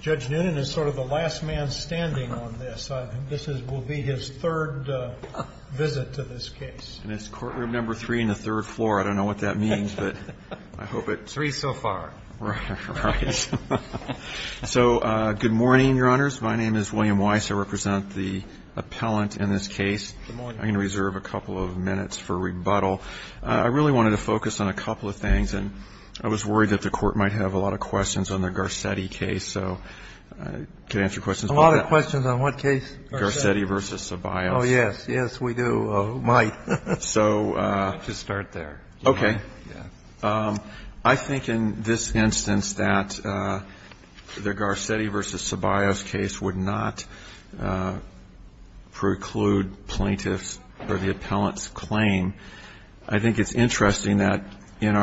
Judge Noonan is sort of the last man standing on this. This will be his third visit to this case. And it's courtroom number three and the third floor. I don't know what that means, but I hope it... Three so far. Right. So, good morning, Your Honors. My name is William Weiss. I represent the appellant in this case. Good morning. I'm going to reserve a couple of minutes for rebuttal. I really wanted to focus on a couple of things. And I was worried that the court might have a lot of questions on the Garcetti case. So I can answer questions. A lot of questions on what case? Garcetti v. Ceballos. Oh, yes. Yes, we do. Might. So... Why don't you start there? Okay. Yes. I think in this instance that the Garcetti v. Ceballos case would not preclude plaintiffs or the appellant's claim. I think it's interesting that in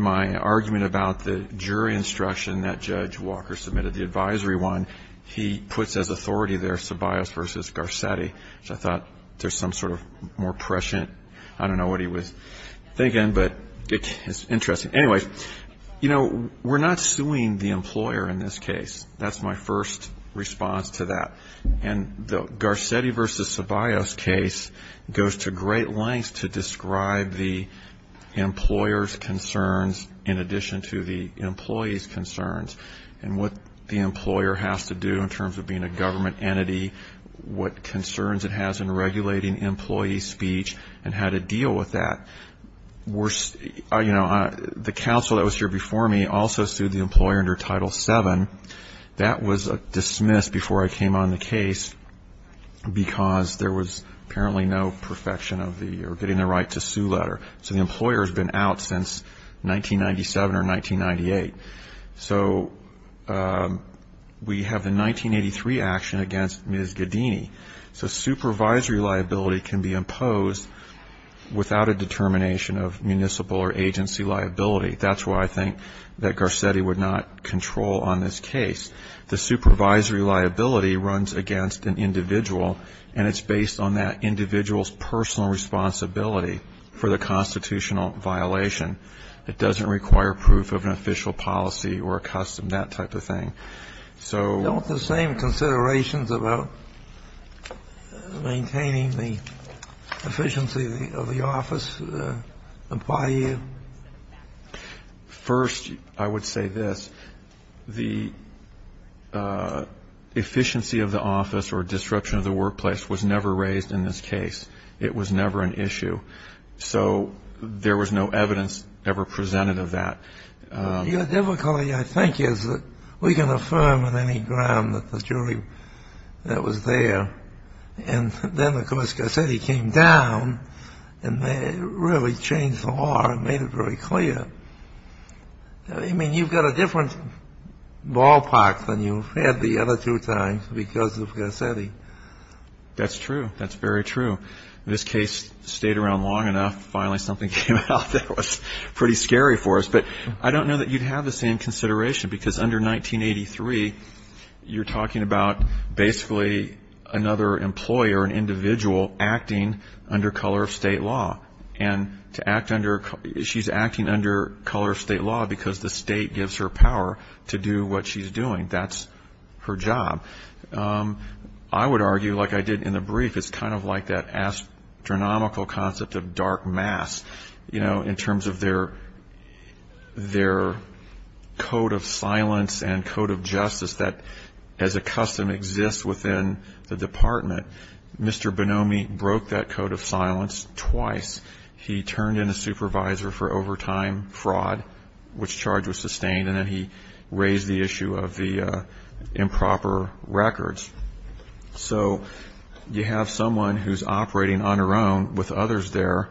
my argument about the jury instruction that Judge Walker submitted, the advisory one, he puts as authority there Ceballos v. Garcetti. So I thought there's some sort of more prescient... Interesting. Anyway, you know, we're not suing the employer in this case. That's my first response to that. And the Garcetti v. Ceballos case goes to great lengths to describe the employer's concerns in addition to the employee's concerns and what the employer has to do in terms of being a government entity, what concerns it has in regulating employee speech and how to deal with that. You know, the counsel that was here before me also sued the employer under Title VII. That was dismissed before I came on the case because there was apparently no perfection of the... or getting the right to sue letter. So the employer has been out since 1997 or 1998. So we have the 1983 action against Ms. Gaddini. So supervisory liability can be imposed without a determination of municipal or agency liability. That's why I think that Garcetti would not control on this case. The supervisory liability runs against an individual, and it's based on that individual's personal responsibility for the constitutional violation. It doesn't require proof of an official policy or a custom, that type of thing. Don't the same considerations about maintaining the efficiency of the office apply here? First, I would say this. The efficiency of the office or disruption of the workplace was never raised in this case. It was never an issue. So there was no evidence ever presented of that. Your difficulty, I think, is that we can affirm on any ground that the jury that was there and then, of course, Garcetti came down and really changed the law and made it very clear. I mean, you've got a different ballpark than you've had the other two times because of Garcetti. That's true. That's very true. This case stayed around long enough. Finally, something came out that was pretty scary for us. But I don't know that you'd have the same consideration because under 1983, you're talking about basically another employer, an individual, acting under color of state law. And she's acting under color of state law because the state gives her power to do what she's doing. That's her job. I would argue, like I did in the brief, it's kind of like that astronomical concept of dark mass, you know, in terms of their code of silence and code of justice that, as a custom, exists within the department. Mr. Bonomi broke that code of silence twice. He turned in a supervisor for overtime fraud, which charge was sustained, and then he raised the issue of the improper records. So you have someone who's operating on her own with others there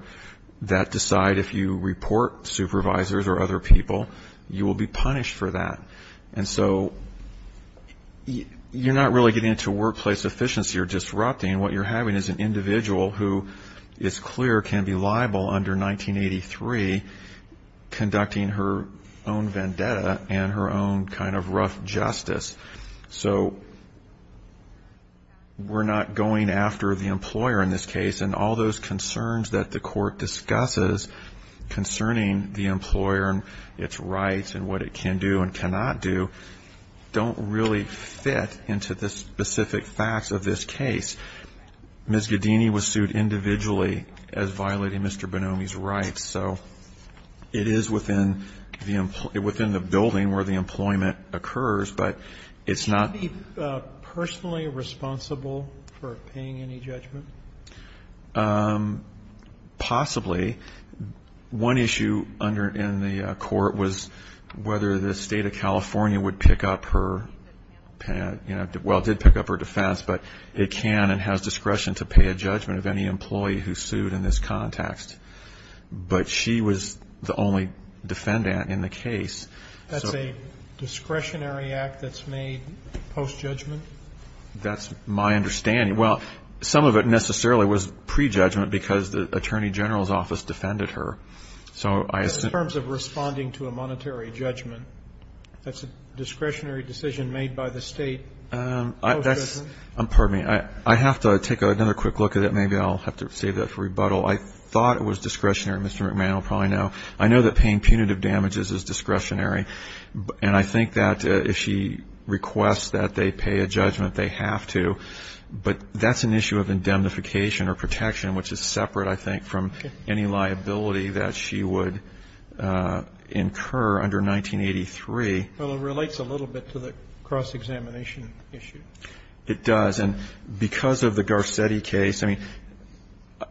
that decide if you report supervisors or other people, you will be punished for that. And so you're not really getting into workplace efficiency or disrupting. What you're having is an individual who is clear can be liable under 1983, conducting her own vendetta and her own kind of rough justice. So we're not going after the employer in this case, and all those concerns that the court discusses concerning the employer and its rights and what it can do and cannot do don't really fit into the specific facts of this case. Ms. Gaddini was sued individually as violating Mr. Bonomi's rights, so it is within the building where the employment occurs. But it's not. Would she be personally responsible for paying any judgment? Possibly. One issue in the court was whether the State of California would pick up her, well, did pick up her defense, but it can and has discretion to pay a judgment of any employee who's sued in this context. But she was the only defendant in the case. That's a discretionary act that's made post-judgment? That's my understanding. Well, some of it necessarily was pre-judgment because the attorney general's office defended her. So in terms of responding to a monetary judgment, that's a discretionary decision made by the State post-judgment? Pardon me. I have to take another quick look at it. Maybe I'll have to save that for rebuttal. I thought it was discretionary. Mr. McMahon will probably know. I know that paying punitive damages is discretionary, and I think that if she requests that they pay a judgment, they have to. But that's an issue of indemnification or protection, which is separate I think from any liability that she would incur under 1983. Well, it relates a little bit to the cross-examination issue. It does. And because of the Garcetti case, I mean,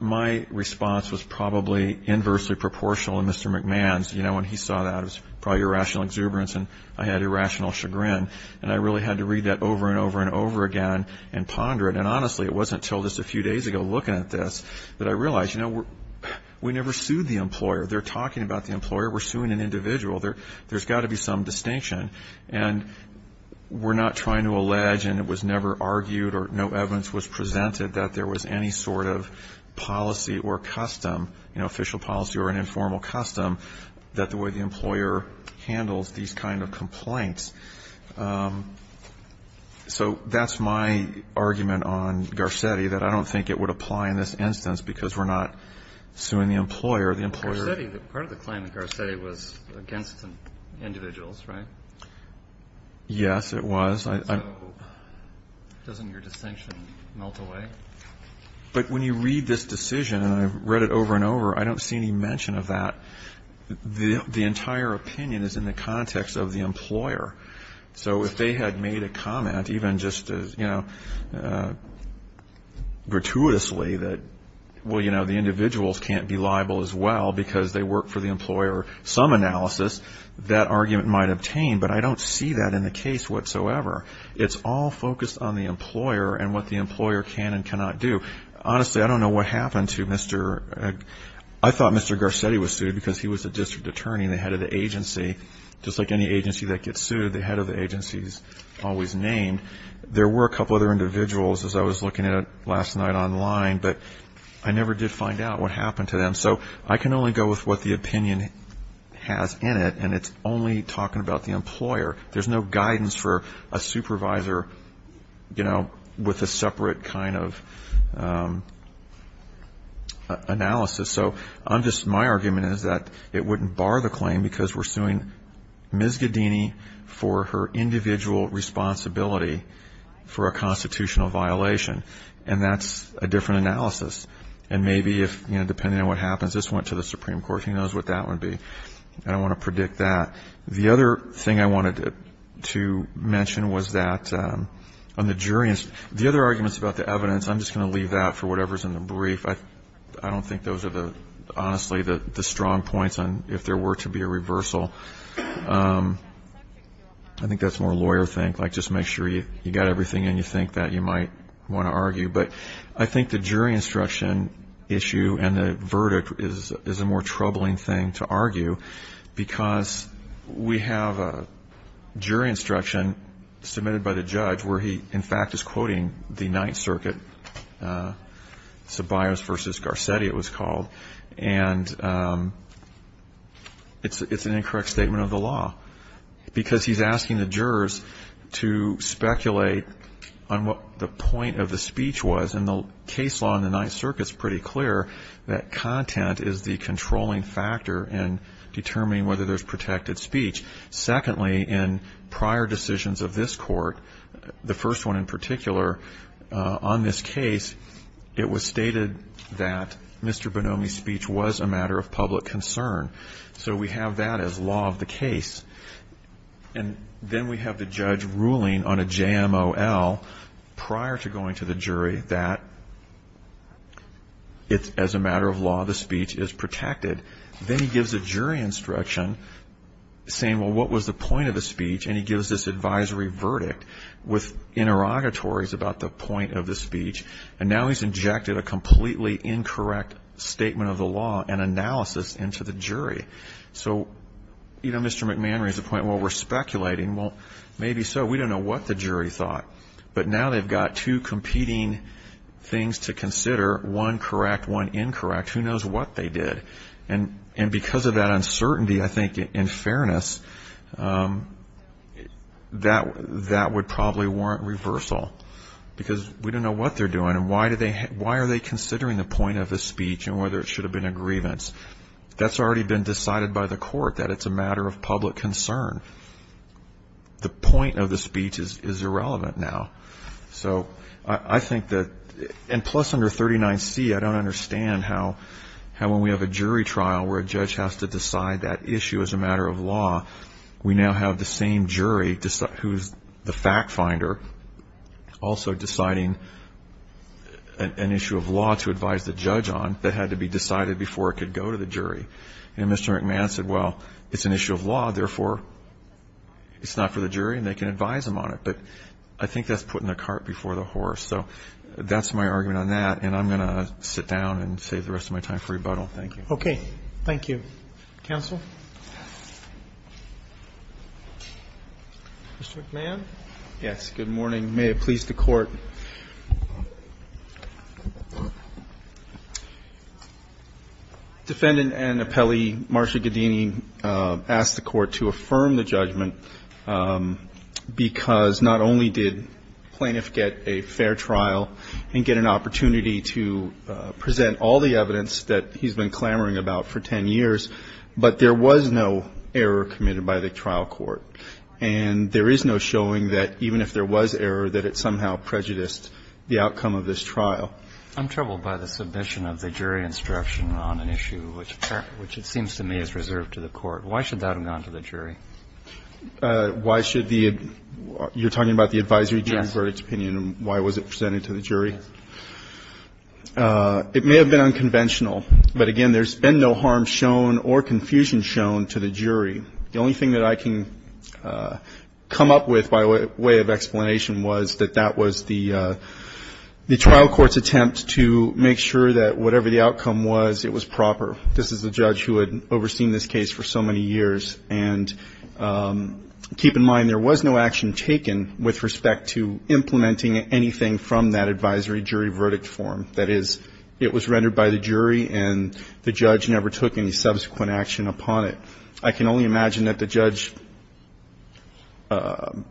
my response was probably inversely proportional to Mr. McMahon's. You know, when he saw that, it was probably irrational exuberance and I had irrational chagrin. And I really had to read that over and over and over again and ponder it. And honestly, it wasn't until just a few days ago looking at this that I realized, you know, we never sued the employer. They're talking about the employer. We're suing an individual. There's got to be some distinction. And we're not trying to allege, and it was never argued or no evidence was presented that there was any sort of policy or custom, you know, official policy or an informal custom, that the way the employer handles these kind of complaints. So that's my argument on Garcetti, that I don't think it would apply in this instance because we're not suing the employer. The employer ---- Garcetti, part of the claim of Garcetti was against individuals, right? Yes, it was. So doesn't your distinction melt away? But when you read this decision, and I've read it over and over, I don't see any mention of that. The entire opinion is in the context of the employer. So if they had made a comment, even just as, you know, gratuitously that, well, you know, the individuals can't be liable as well because they work for the employer, some analysis, that argument might obtain. But I don't see that in the case whatsoever. It's all focused on the employer and what the employer can and cannot do. Honestly, I don't know what happened to Mr. ---- I thought Mr. Garcetti was sued because he was a district attorney and the head of the agency. Just like any agency that gets sued, the head of the agency is always named. There were a couple other individuals, as I was looking at it last night online, but I never did find out what happened to them. So I can only go with what the opinion has in it, and it's only talking about the employer. There's no guidance for a supervisor, you know, with a separate kind of analysis. So my argument is that it wouldn't bar the claim because we're suing Ms. Gaddini for her individual responsibility for a constitutional violation, and that's a different analysis. And maybe if, you know, depending on what happens, this went to the Supreme Court, who knows what that would be. I don't want to predict that. The other thing I wanted to mention was that on the jury ---- the other arguments about the evidence, I'm just going to leave that for whatever's in the brief. I don't think those are, honestly, the strong points on if there were to be a reversal. I think that's more a lawyer thing, like just make sure you've got everything in you think that you might want to argue. But I think the jury instruction issue and the verdict is a more troubling thing to argue because we have a jury instruction submitted by the judge where he, in fact, is quoting the Ninth Circuit, Ceballos v. Garcetti it was called, and it's an incorrect statement of the law because he's asking the jurors to speculate on what the point of the speech was. And the case law in the Ninth Circuit is pretty clear that content is the controlling factor in determining whether there's protected speech. Secondly, in prior decisions of this court, the first one in particular on this case, it was stated that Mr. Bonomi's speech was a matter of public concern. So we have that as law of the case. And then we have the judge ruling on a JMOL prior to going to the jury that it's, as a matter of law, the speech is protected. Then he gives a jury instruction saying, well, what was the point of the speech, and he gives this advisory verdict with interrogatories about the point of the speech. And now he's injected a completely incorrect statement of the law and analysis into the jury. So, you know, Mr. McMahon raised the point, well, we're speculating. Well, maybe so. We don't know what the jury thought. But now they've got two competing things to consider, one correct, one incorrect. Who knows what they did. And because of that uncertainty, I think, in fairness, that would probably warrant reversal because we don't know what they're doing and why are they considering the point of the speech and whether it should have been a grievance. That's already been decided by the court that it's a matter of public concern. The point of the speech is irrelevant now. So I think that, and plus under 39C, I don't understand how when we have a jury trial where a judge has to decide that issue as a matter of law, we now have the same jury who's the fact finder also deciding an issue of law to advise the judge on that had to be decided before it could go to the jury. And Mr. McMahon said, well, it's an issue of law. Therefore, it's not for the jury and they can advise him on it. But I think that's putting the cart before the horse. So that's my argument on that. And I'm going to sit down and save the rest of my time for rebuttal. Thank you. Okay. Thank you. Counsel. Mr. McMahon. Yes. Good morning. May it please the Court. Defendant and appellee Marcia Gaddini asked the Court to affirm the judgment because not only did plaintiff get a fair trial and get an opportunity to present all the evidence that he's been clamoring about for 10 years, but there was no error committed by the trial court. And there is no showing that even if there was error, that it somehow prejudiced the outcome of this trial. I'm troubled by the submission of the jury instruction on an issue which it seems to me is reserved to the Court. Why should that have gone to the jury? Why should the you're talking about the advisory jury verdict opinion. Why was it presented to the jury? It may have been unconventional. But, again, there's been no harm shown or confusion shown to the jury. The only thing that I can come up with by way of explanation was that that was the trial court's attempt to make sure that whatever the outcome was, it was proper. This is the judge who had overseen this case for so many years. And keep in mind there was no action taken with respect to implementing anything from that advisory jury verdict form. That is, it was rendered by the jury and the judge never took any subsequent action upon it. I can only imagine that the judge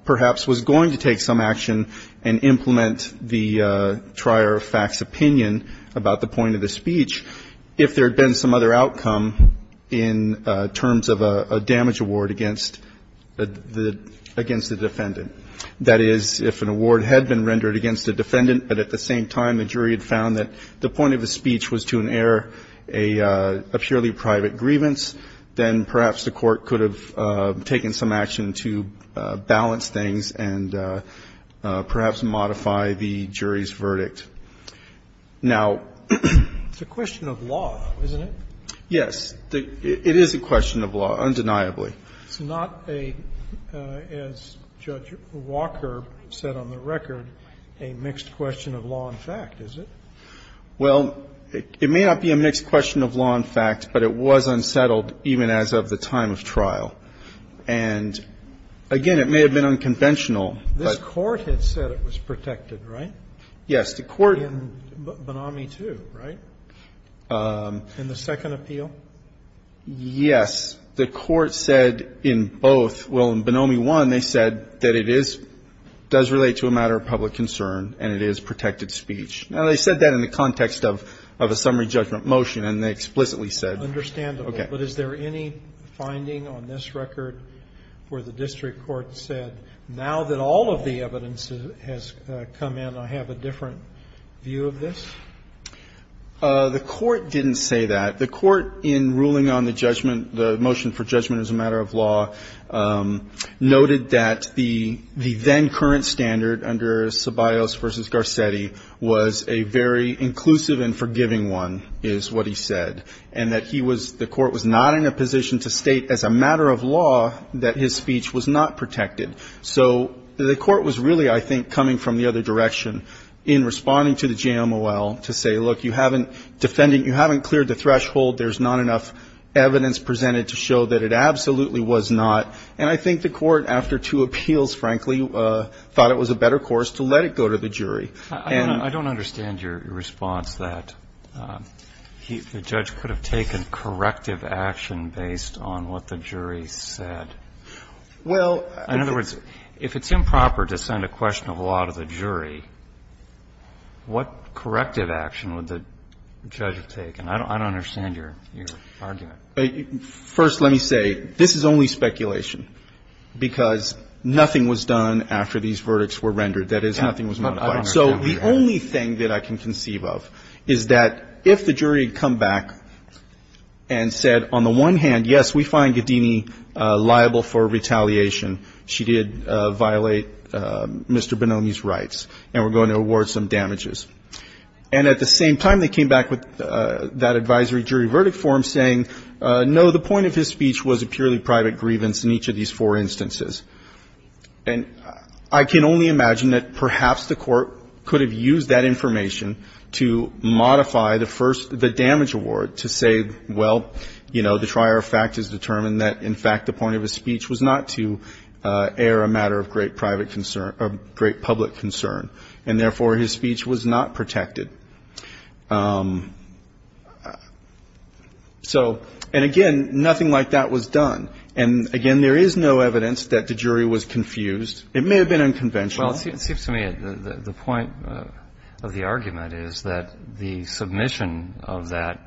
perhaps was going to take some action and implement the trier of facts opinion about the point of the speech if there had been some other outcome in terms of a damage award against the defendant. That is, if an award had been rendered against a defendant but at the same time the jury had found that the point of the speech was to inherit a purely private grievance, then perhaps the court could have taken some action to balance things and perhaps modify the jury's verdict. Now the question of law, isn't it? Yes. It is a question of law, undeniably. It's not a, as Judge Walker said on the record, a mixed question of law and fact, is it? Well, it may not be a mixed question of law and fact, but it was unsettled even as of the time of trial. And again, it may have been unconventional. This Court had said it was protected, right? Yes. In Bonomi 2, right? In the second appeal? Yes. The Court said in both. Well, in Bonomi 1, they said that it is, does relate to a matter of public concern and it is protected speech. Now, they said that in the context of a summary judgment motion and they explicitly said, okay. Understandable, but is there any finding on this record where the district court said now that all of the evidence has come in, I have a different view of this? The Court didn't say that. The Court in ruling on the judgment, the motion for judgment as a matter of law, noted that the then current standard under Ceballos v. Garcetti was a very inclusive and forgiving one, is what he said. And that he was, the Court was not in a position to state as a matter of law that his speech was not protected. So the Court was really, I think, coming from the other direction in responding to the JMOL to say, look, you haven't defended, you haven't cleared the threshold, there's not enough evidence presented to show that it absolutely was not. And I think the Court, after two appeals, frankly, thought it was a better course to let it go to the jury. And the Judge could have taken corrective action based on what the jury said. In other words, if it's improper to send a question of law to the jury, what corrective action would the judge have taken? I don't understand your argument. First, let me say, this is only speculation, because nothing was done after these verdicts were rendered, that is, nothing was modified. So the only thing that I can conceive of is that if the jury had come back and said on the one hand, yes, we find Gaddini liable for retaliation, she did violate Mr. Bonomi's rights, and we're going to award some damages. And at the same time, they came back with that advisory jury verdict form saying, no, the point of his speech was a purely private grievance in each of these four instances. And I can only imagine that perhaps the Court could have used that information to modify the first the damage award to say, well, you know, the trier of fact has determined that, in fact, the point of his speech was not to air a matter of great public concern, and therefore his speech was not protected. So, and again, nothing like that was done. And, again, there is no evidence that the jury was confused. It may have been unconventional. Well, it seems to me the point of the argument is that the submission of that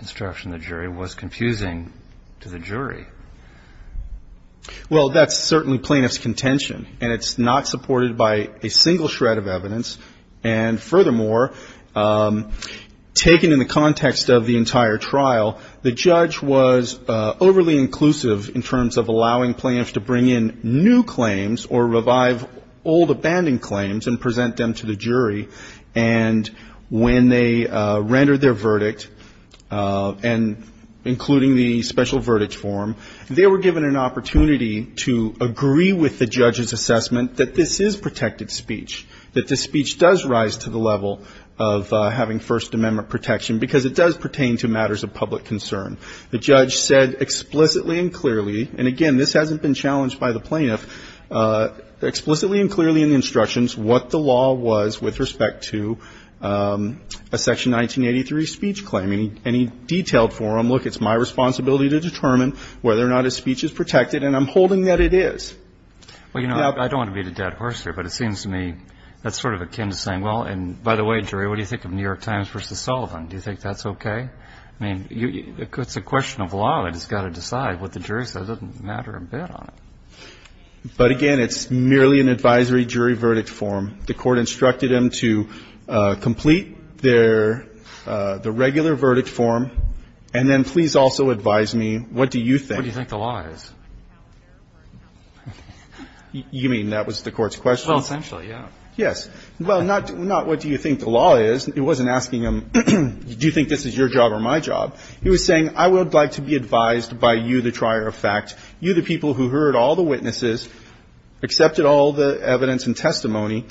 instruction the jury was confusing to the jury. Well, that's certainly plaintiff's contention, and it's not supported by a single shred of evidence. And, furthermore, taken in the context of the entire trial, the judge was overly inclusive in terms of allowing plaintiffs to bring in new claims or revive old abandoned claims and present them to the jury. And when they rendered their verdict, and including the special verdict form, they were given an opportunity to agree with the judge's assessment that this is protected The judge said explicitly and clearly, and, again, this hasn't been challenged by the plaintiff, explicitly and clearly in the instructions what the law was with respect to a Section 1983 speech claim. Any detailed form, look, it's my responsibility to determine whether or not a speech is protected, and I'm holding that it is. Well, you know, I don't want to be the dead horse here, but it seems to me that's sort of akin to saying, well, and, by the way, jury, what do you think of New York Times v. Sullivan? Do you think that's okay? I mean, it's a question of law that has got to decide what the jury says. It doesn't matter a bit on it. But, again, it's merely an advisory jury verdict form. The Court instructed them to complete their regular verdict form, and then please also advise me, what do you think? What do you think the law is? You mean that was the Court's question? Well, essentially, yeah. Yes. Well, not what do you think the law is. It wasn't asking him, do you think this is your job or my job? He was saying, I would like to be advised by you, the trier of fact, you, the people who heard all the witnesses, accepted all the evidence and testimony,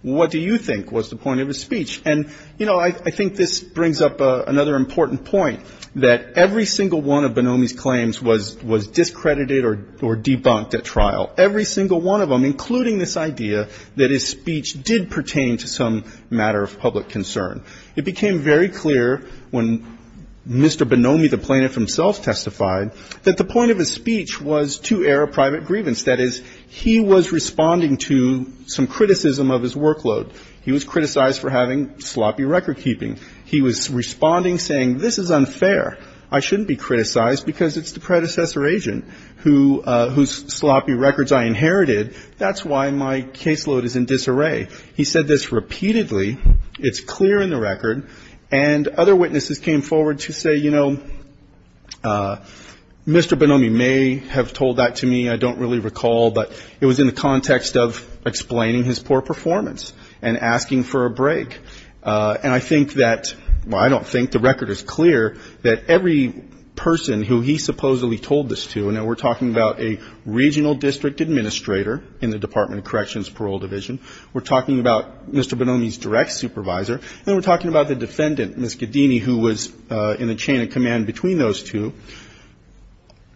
what do you think was the point of his speech? And, you know, I think this brings up another important point, that every single one of Bonomi's claims was discredited or debunked at trial. Every single one of them, including this idea that his speech did pertain to some matter of public concern. It became very clear when Mr. Bonomi, the plaintiff himself, testified that the point of his speech was to air a private grievance. That is, he was responding to some criticism of his workload. He was criticized for having sloppy recordkeeping. He was responding saying, this is unfair, I shouldn't be criticized because it's the predecessor agent whose sloppy records I inherited, that's why my caseload is in disarray. He said this repeatedly. It's clear in the record. And other witnesses came forward to say, you know, Mr. Bonomi may have told that to me, I don't really recall, but it was in the context of explaining his poor performance and asking for a break. And I think that, well, I don't think the record is clear, that every person who he supposedly told this to, and now we're talking about a regional district administrator in the Department of Corrections Parole Division, we're talking about Mr. Bonomi's direct supervisor, and we're talking about the defendant, Ms. Gaddini, who was in the chain of command between those two,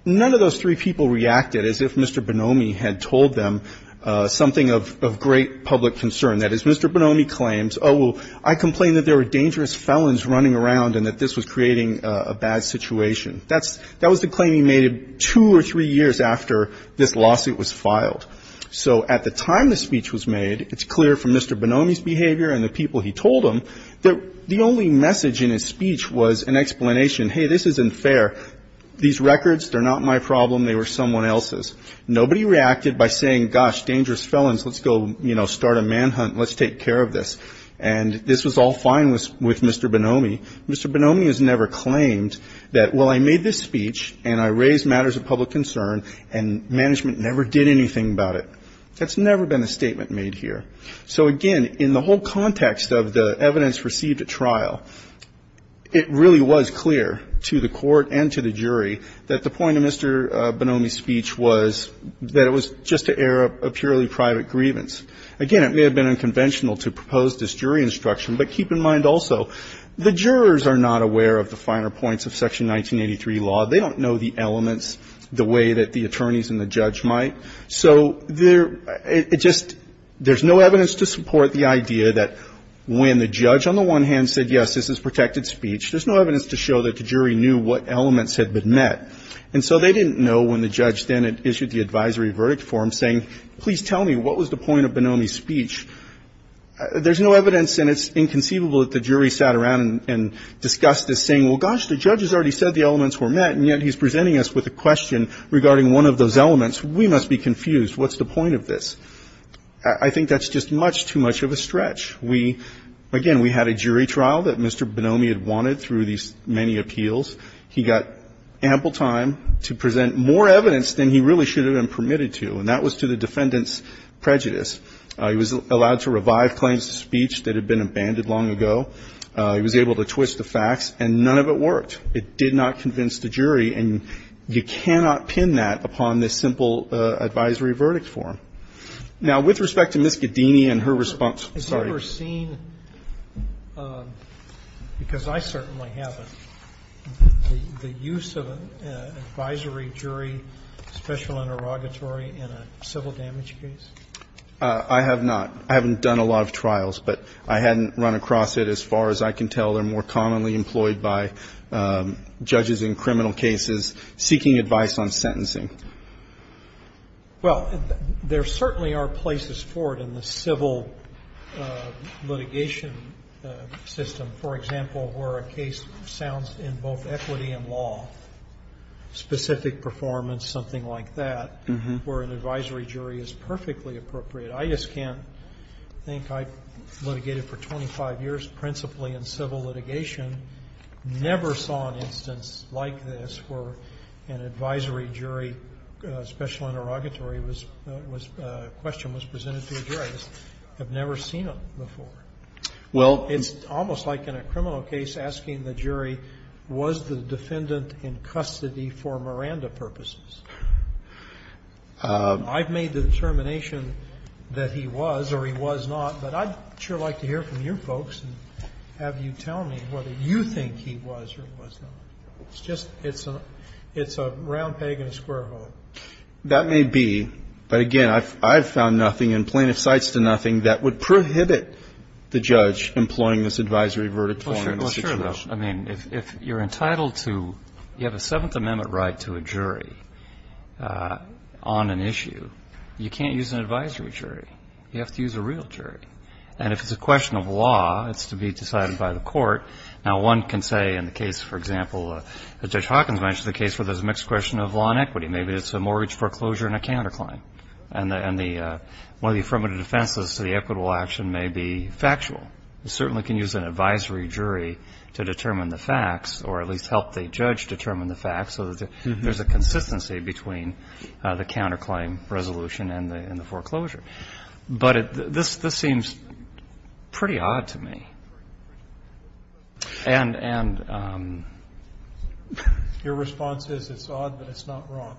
none of those three people reacted as if Mr. Bonomi had told them something of great public concern. That is, Mr. Bonomi claims, oh, well, I complained that there were dangerous felons running around and that this was creating a bad situation. That was the claim he made two or three years after this lawsuit was filed. So at the time the speech was made, it's clear from Mr. Bonomi's behavior and the people he told him that the only message in his speech was an explanation, hey, this isn't fair. These records, they're not my problem. They were someone else's. Nobody reacted by saying, gosh, dangerous felons, let's go, you know, start a manhunt and let's take care of this. And this was all fine with Mr. Bonomi. Mr. Bonomi has never claimed that, well, I made this speech and I raised matters of public concern and management never did anything about it. That's never been a statement made here. So, again, in the whole context of the evidence received at trial, it really was clear to the court and to the jury that the point of Mr. Bonomi's speech was that it was just to air a purely private grievance. Again, it may have been unconventional to propose this jury instruction, but keep in mind also the jurors are not aware of the finer points of Section 1983 law. They don't know the elements the way that the attorneys and the judge might. So there just no evidence to support the idea that when the judge on the one hand said, yes, this is protected speech, there's no evidence to show that the jury knew what elements had been met. And so they didn't know when the judge then issued the advisory verdict for him saying, please tell me, what was the point of Bonomi's speech? There's no evidence and it's inconceivable that the jury sat around and discussed this saying, well, gosh, the judge has already said the elements were met, and yet he's presenting us with a question regarding one of those elements. We must be confused. What's the point of this? I think that's just much too much of a stretch. We, again, we had a jury trial that Mr. Bonomi had wanted through these many appeals. He got ample time to present more evidence than he really should have been permitted to, and that was to the defendant's prejudice. He was allowed to revive claims to speech that had been abandoned long ago. He was able to twist the facts, and none of it worked. It did not convince the jury. And you cannot pin that upon this simple advisory verdict form. Now, with respect to Ms. Gaddini and her response, sorry. Have you ever seen, because I certainly haven't, the use of an advisory jury special interrogatory in a civil damage case? I have not. I haven't done a lot of trials, but I hadn't run across it as far as I can tell. They're more commonly employed by judges in criminal cases seeking advice on sentencing. Well, there certainly are places for it in the civil litigation system, for example, where a case sounds in both equity and law, specific performance, something like that, where an advisory jury is perfectly appropriate. I just can't think I've litigated for 25 years principally in civil litigation, never saw an instance like this where an advisory jury special interrogatory was questioned, was presented to a jury. I just have never seen it before. Well, it's almost like in a criminal case asking the jury, was the defendant in custody for Miranda purposes? I've made the determination that he was or he was not, but I'd sure like to hear from your folks and have you tell me whether you think he was or he was not. It's just, it's a round peg in a square hole. That may be. But again, I've found nothing in plaintiff's sites to nothing that would prohibit the judge employing this advisory verdict for him in this situation. Well, sure, though. I mean, if you're entitled to, you have a Seventh Amendment right to a jury on an issue, you can't use an advisory jury. You have to use a real jury. And if it's a question of law, it's to be decided by the court. Now, one can say in the case, for example, Judge Hawkins mentioned the case where there's a mixed question of law and equity. Maybe it's a mortgage foreclosure and a counterclaim. And one of the affirmative defenses to the equitable action may be factual. You certainly can use an advisory jury to determine the facts or at least help the judge determine the facts so that there's a consistency between the counterclaim resolution and the foreclosure. But this seems pretty odd to me. And your response is it's odd, but it's not wrong.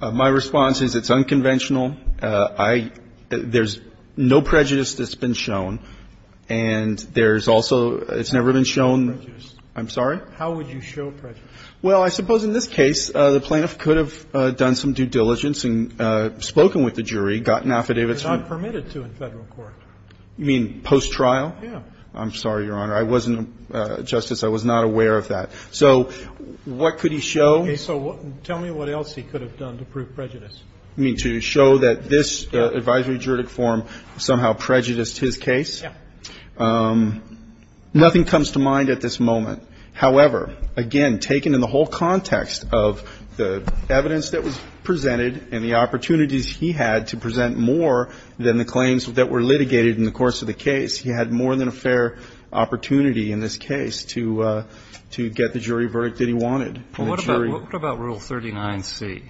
My response is it's unconventional. There's no prejudice that's been shown. And there's also, it's never been shown. I'm sorry? How would you show prejudice? Well, I suppose in this case, the plaintiff could have done some due diligence and spoken with the jury, gotten affidavits from them. But it's not permitted to in Federal court. You mean post-trial? Yeah. I'm sorry, Your Honor. I wasn't, Justice, I was not aware of that. So what could he show? Okay. So tell me what else he could have done to prove prejudice. You mean to show that this advisory juridic form somehow prejudiced his case? Yeah. Nothing comes to mind at this moment. However, again, taken in the whole context of the evidence that was presented and the opportunities he had to present more than the claims that were litigated in the course of the case, he had more than a fair opportunity in this case to get the jury verdict that he wanted. Well, what about Rule 39C?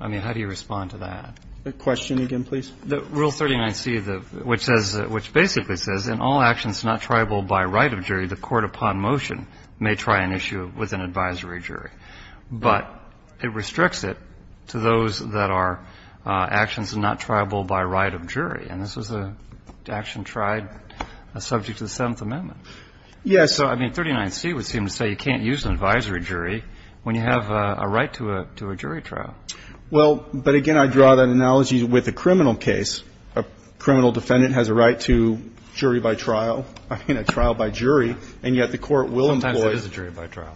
I mean, how do you respond to that? Question again, please. Rule 39C, which basically says, in all actions not triable by right of jury, the court upon motion may try an issue with an advisory jury. But it restricts it to those that are actions not triable by right of jury. And this was an action tried subject to the Seventh Amendment. Yes. So, I mean, 39C would seem to say you can't use an advisory jury when you have a right to a jury trial. Well, but, again, I draw that analogy with a criminal case. A criminal defendant has a right to jury by trial, I mean, a trial by jury, and yet the court will employ it. Sometimes it is a jury by trial.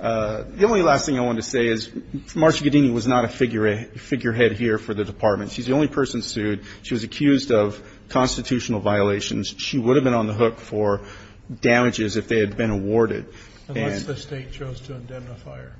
The only last thing I wanted to say is Marcia Guadagni was not a figurehead here for the Department. She's the only person sued. She was accused of constitutional violations. She would have been on the hook for damages if they had been awarded. Unless the State chose to indemnify her.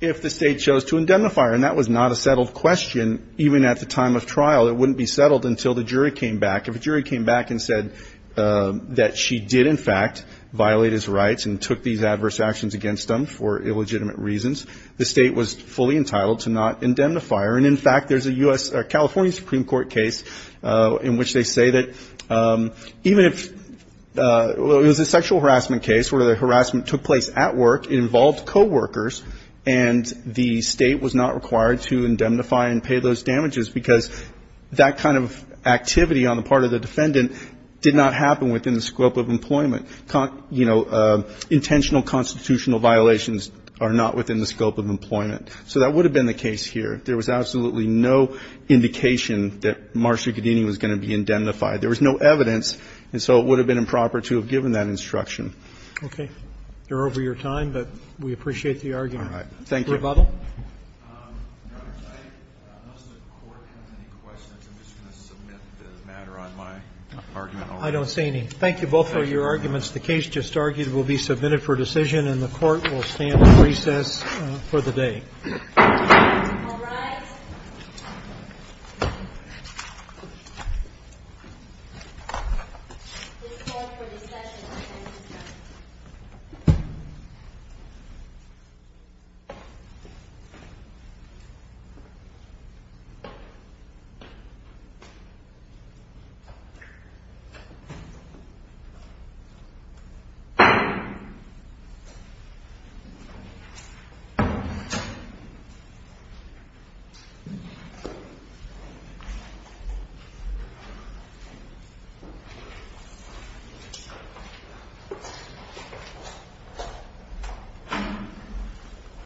If the State chose to indemnify her. And that was not a settled question even at the time of trial. It wouldn't be settled until the jury came back. If a jury came back and said that she did, in fact, violate his rights and took these adverse actions against him for illegitimate reasons, the State was fully entitled to not indemnify her. And, in fact, there's a California Supreme Court case in which they say that even if it was a sexual harassment case where the harassment took place at work, it involved coworkers, and the State was not required to indemnify and pay those damages because that kind of activity on the part of the defendant did not happen within the scope of employment. You know, intentional constitutional violations are not within the scope of employment. So that would have been the case here. There was absolutely no indication that Marcia Guadagni was going to be indemnified. There was no evidence, and so it would have been improper to have given that instruction. Okay. We're over your time, but we appreciate the argument. All right. Thank you. Rebuttal? Your Honor, I don't know if the Court has any questions. I'm just going to submit the matter on my argument. I don't see any. Thank you both for your arguments. The case just argued will be submitted for decision, and the Court will stand at recess for the day. All rise. Please stand for the session. Thank you.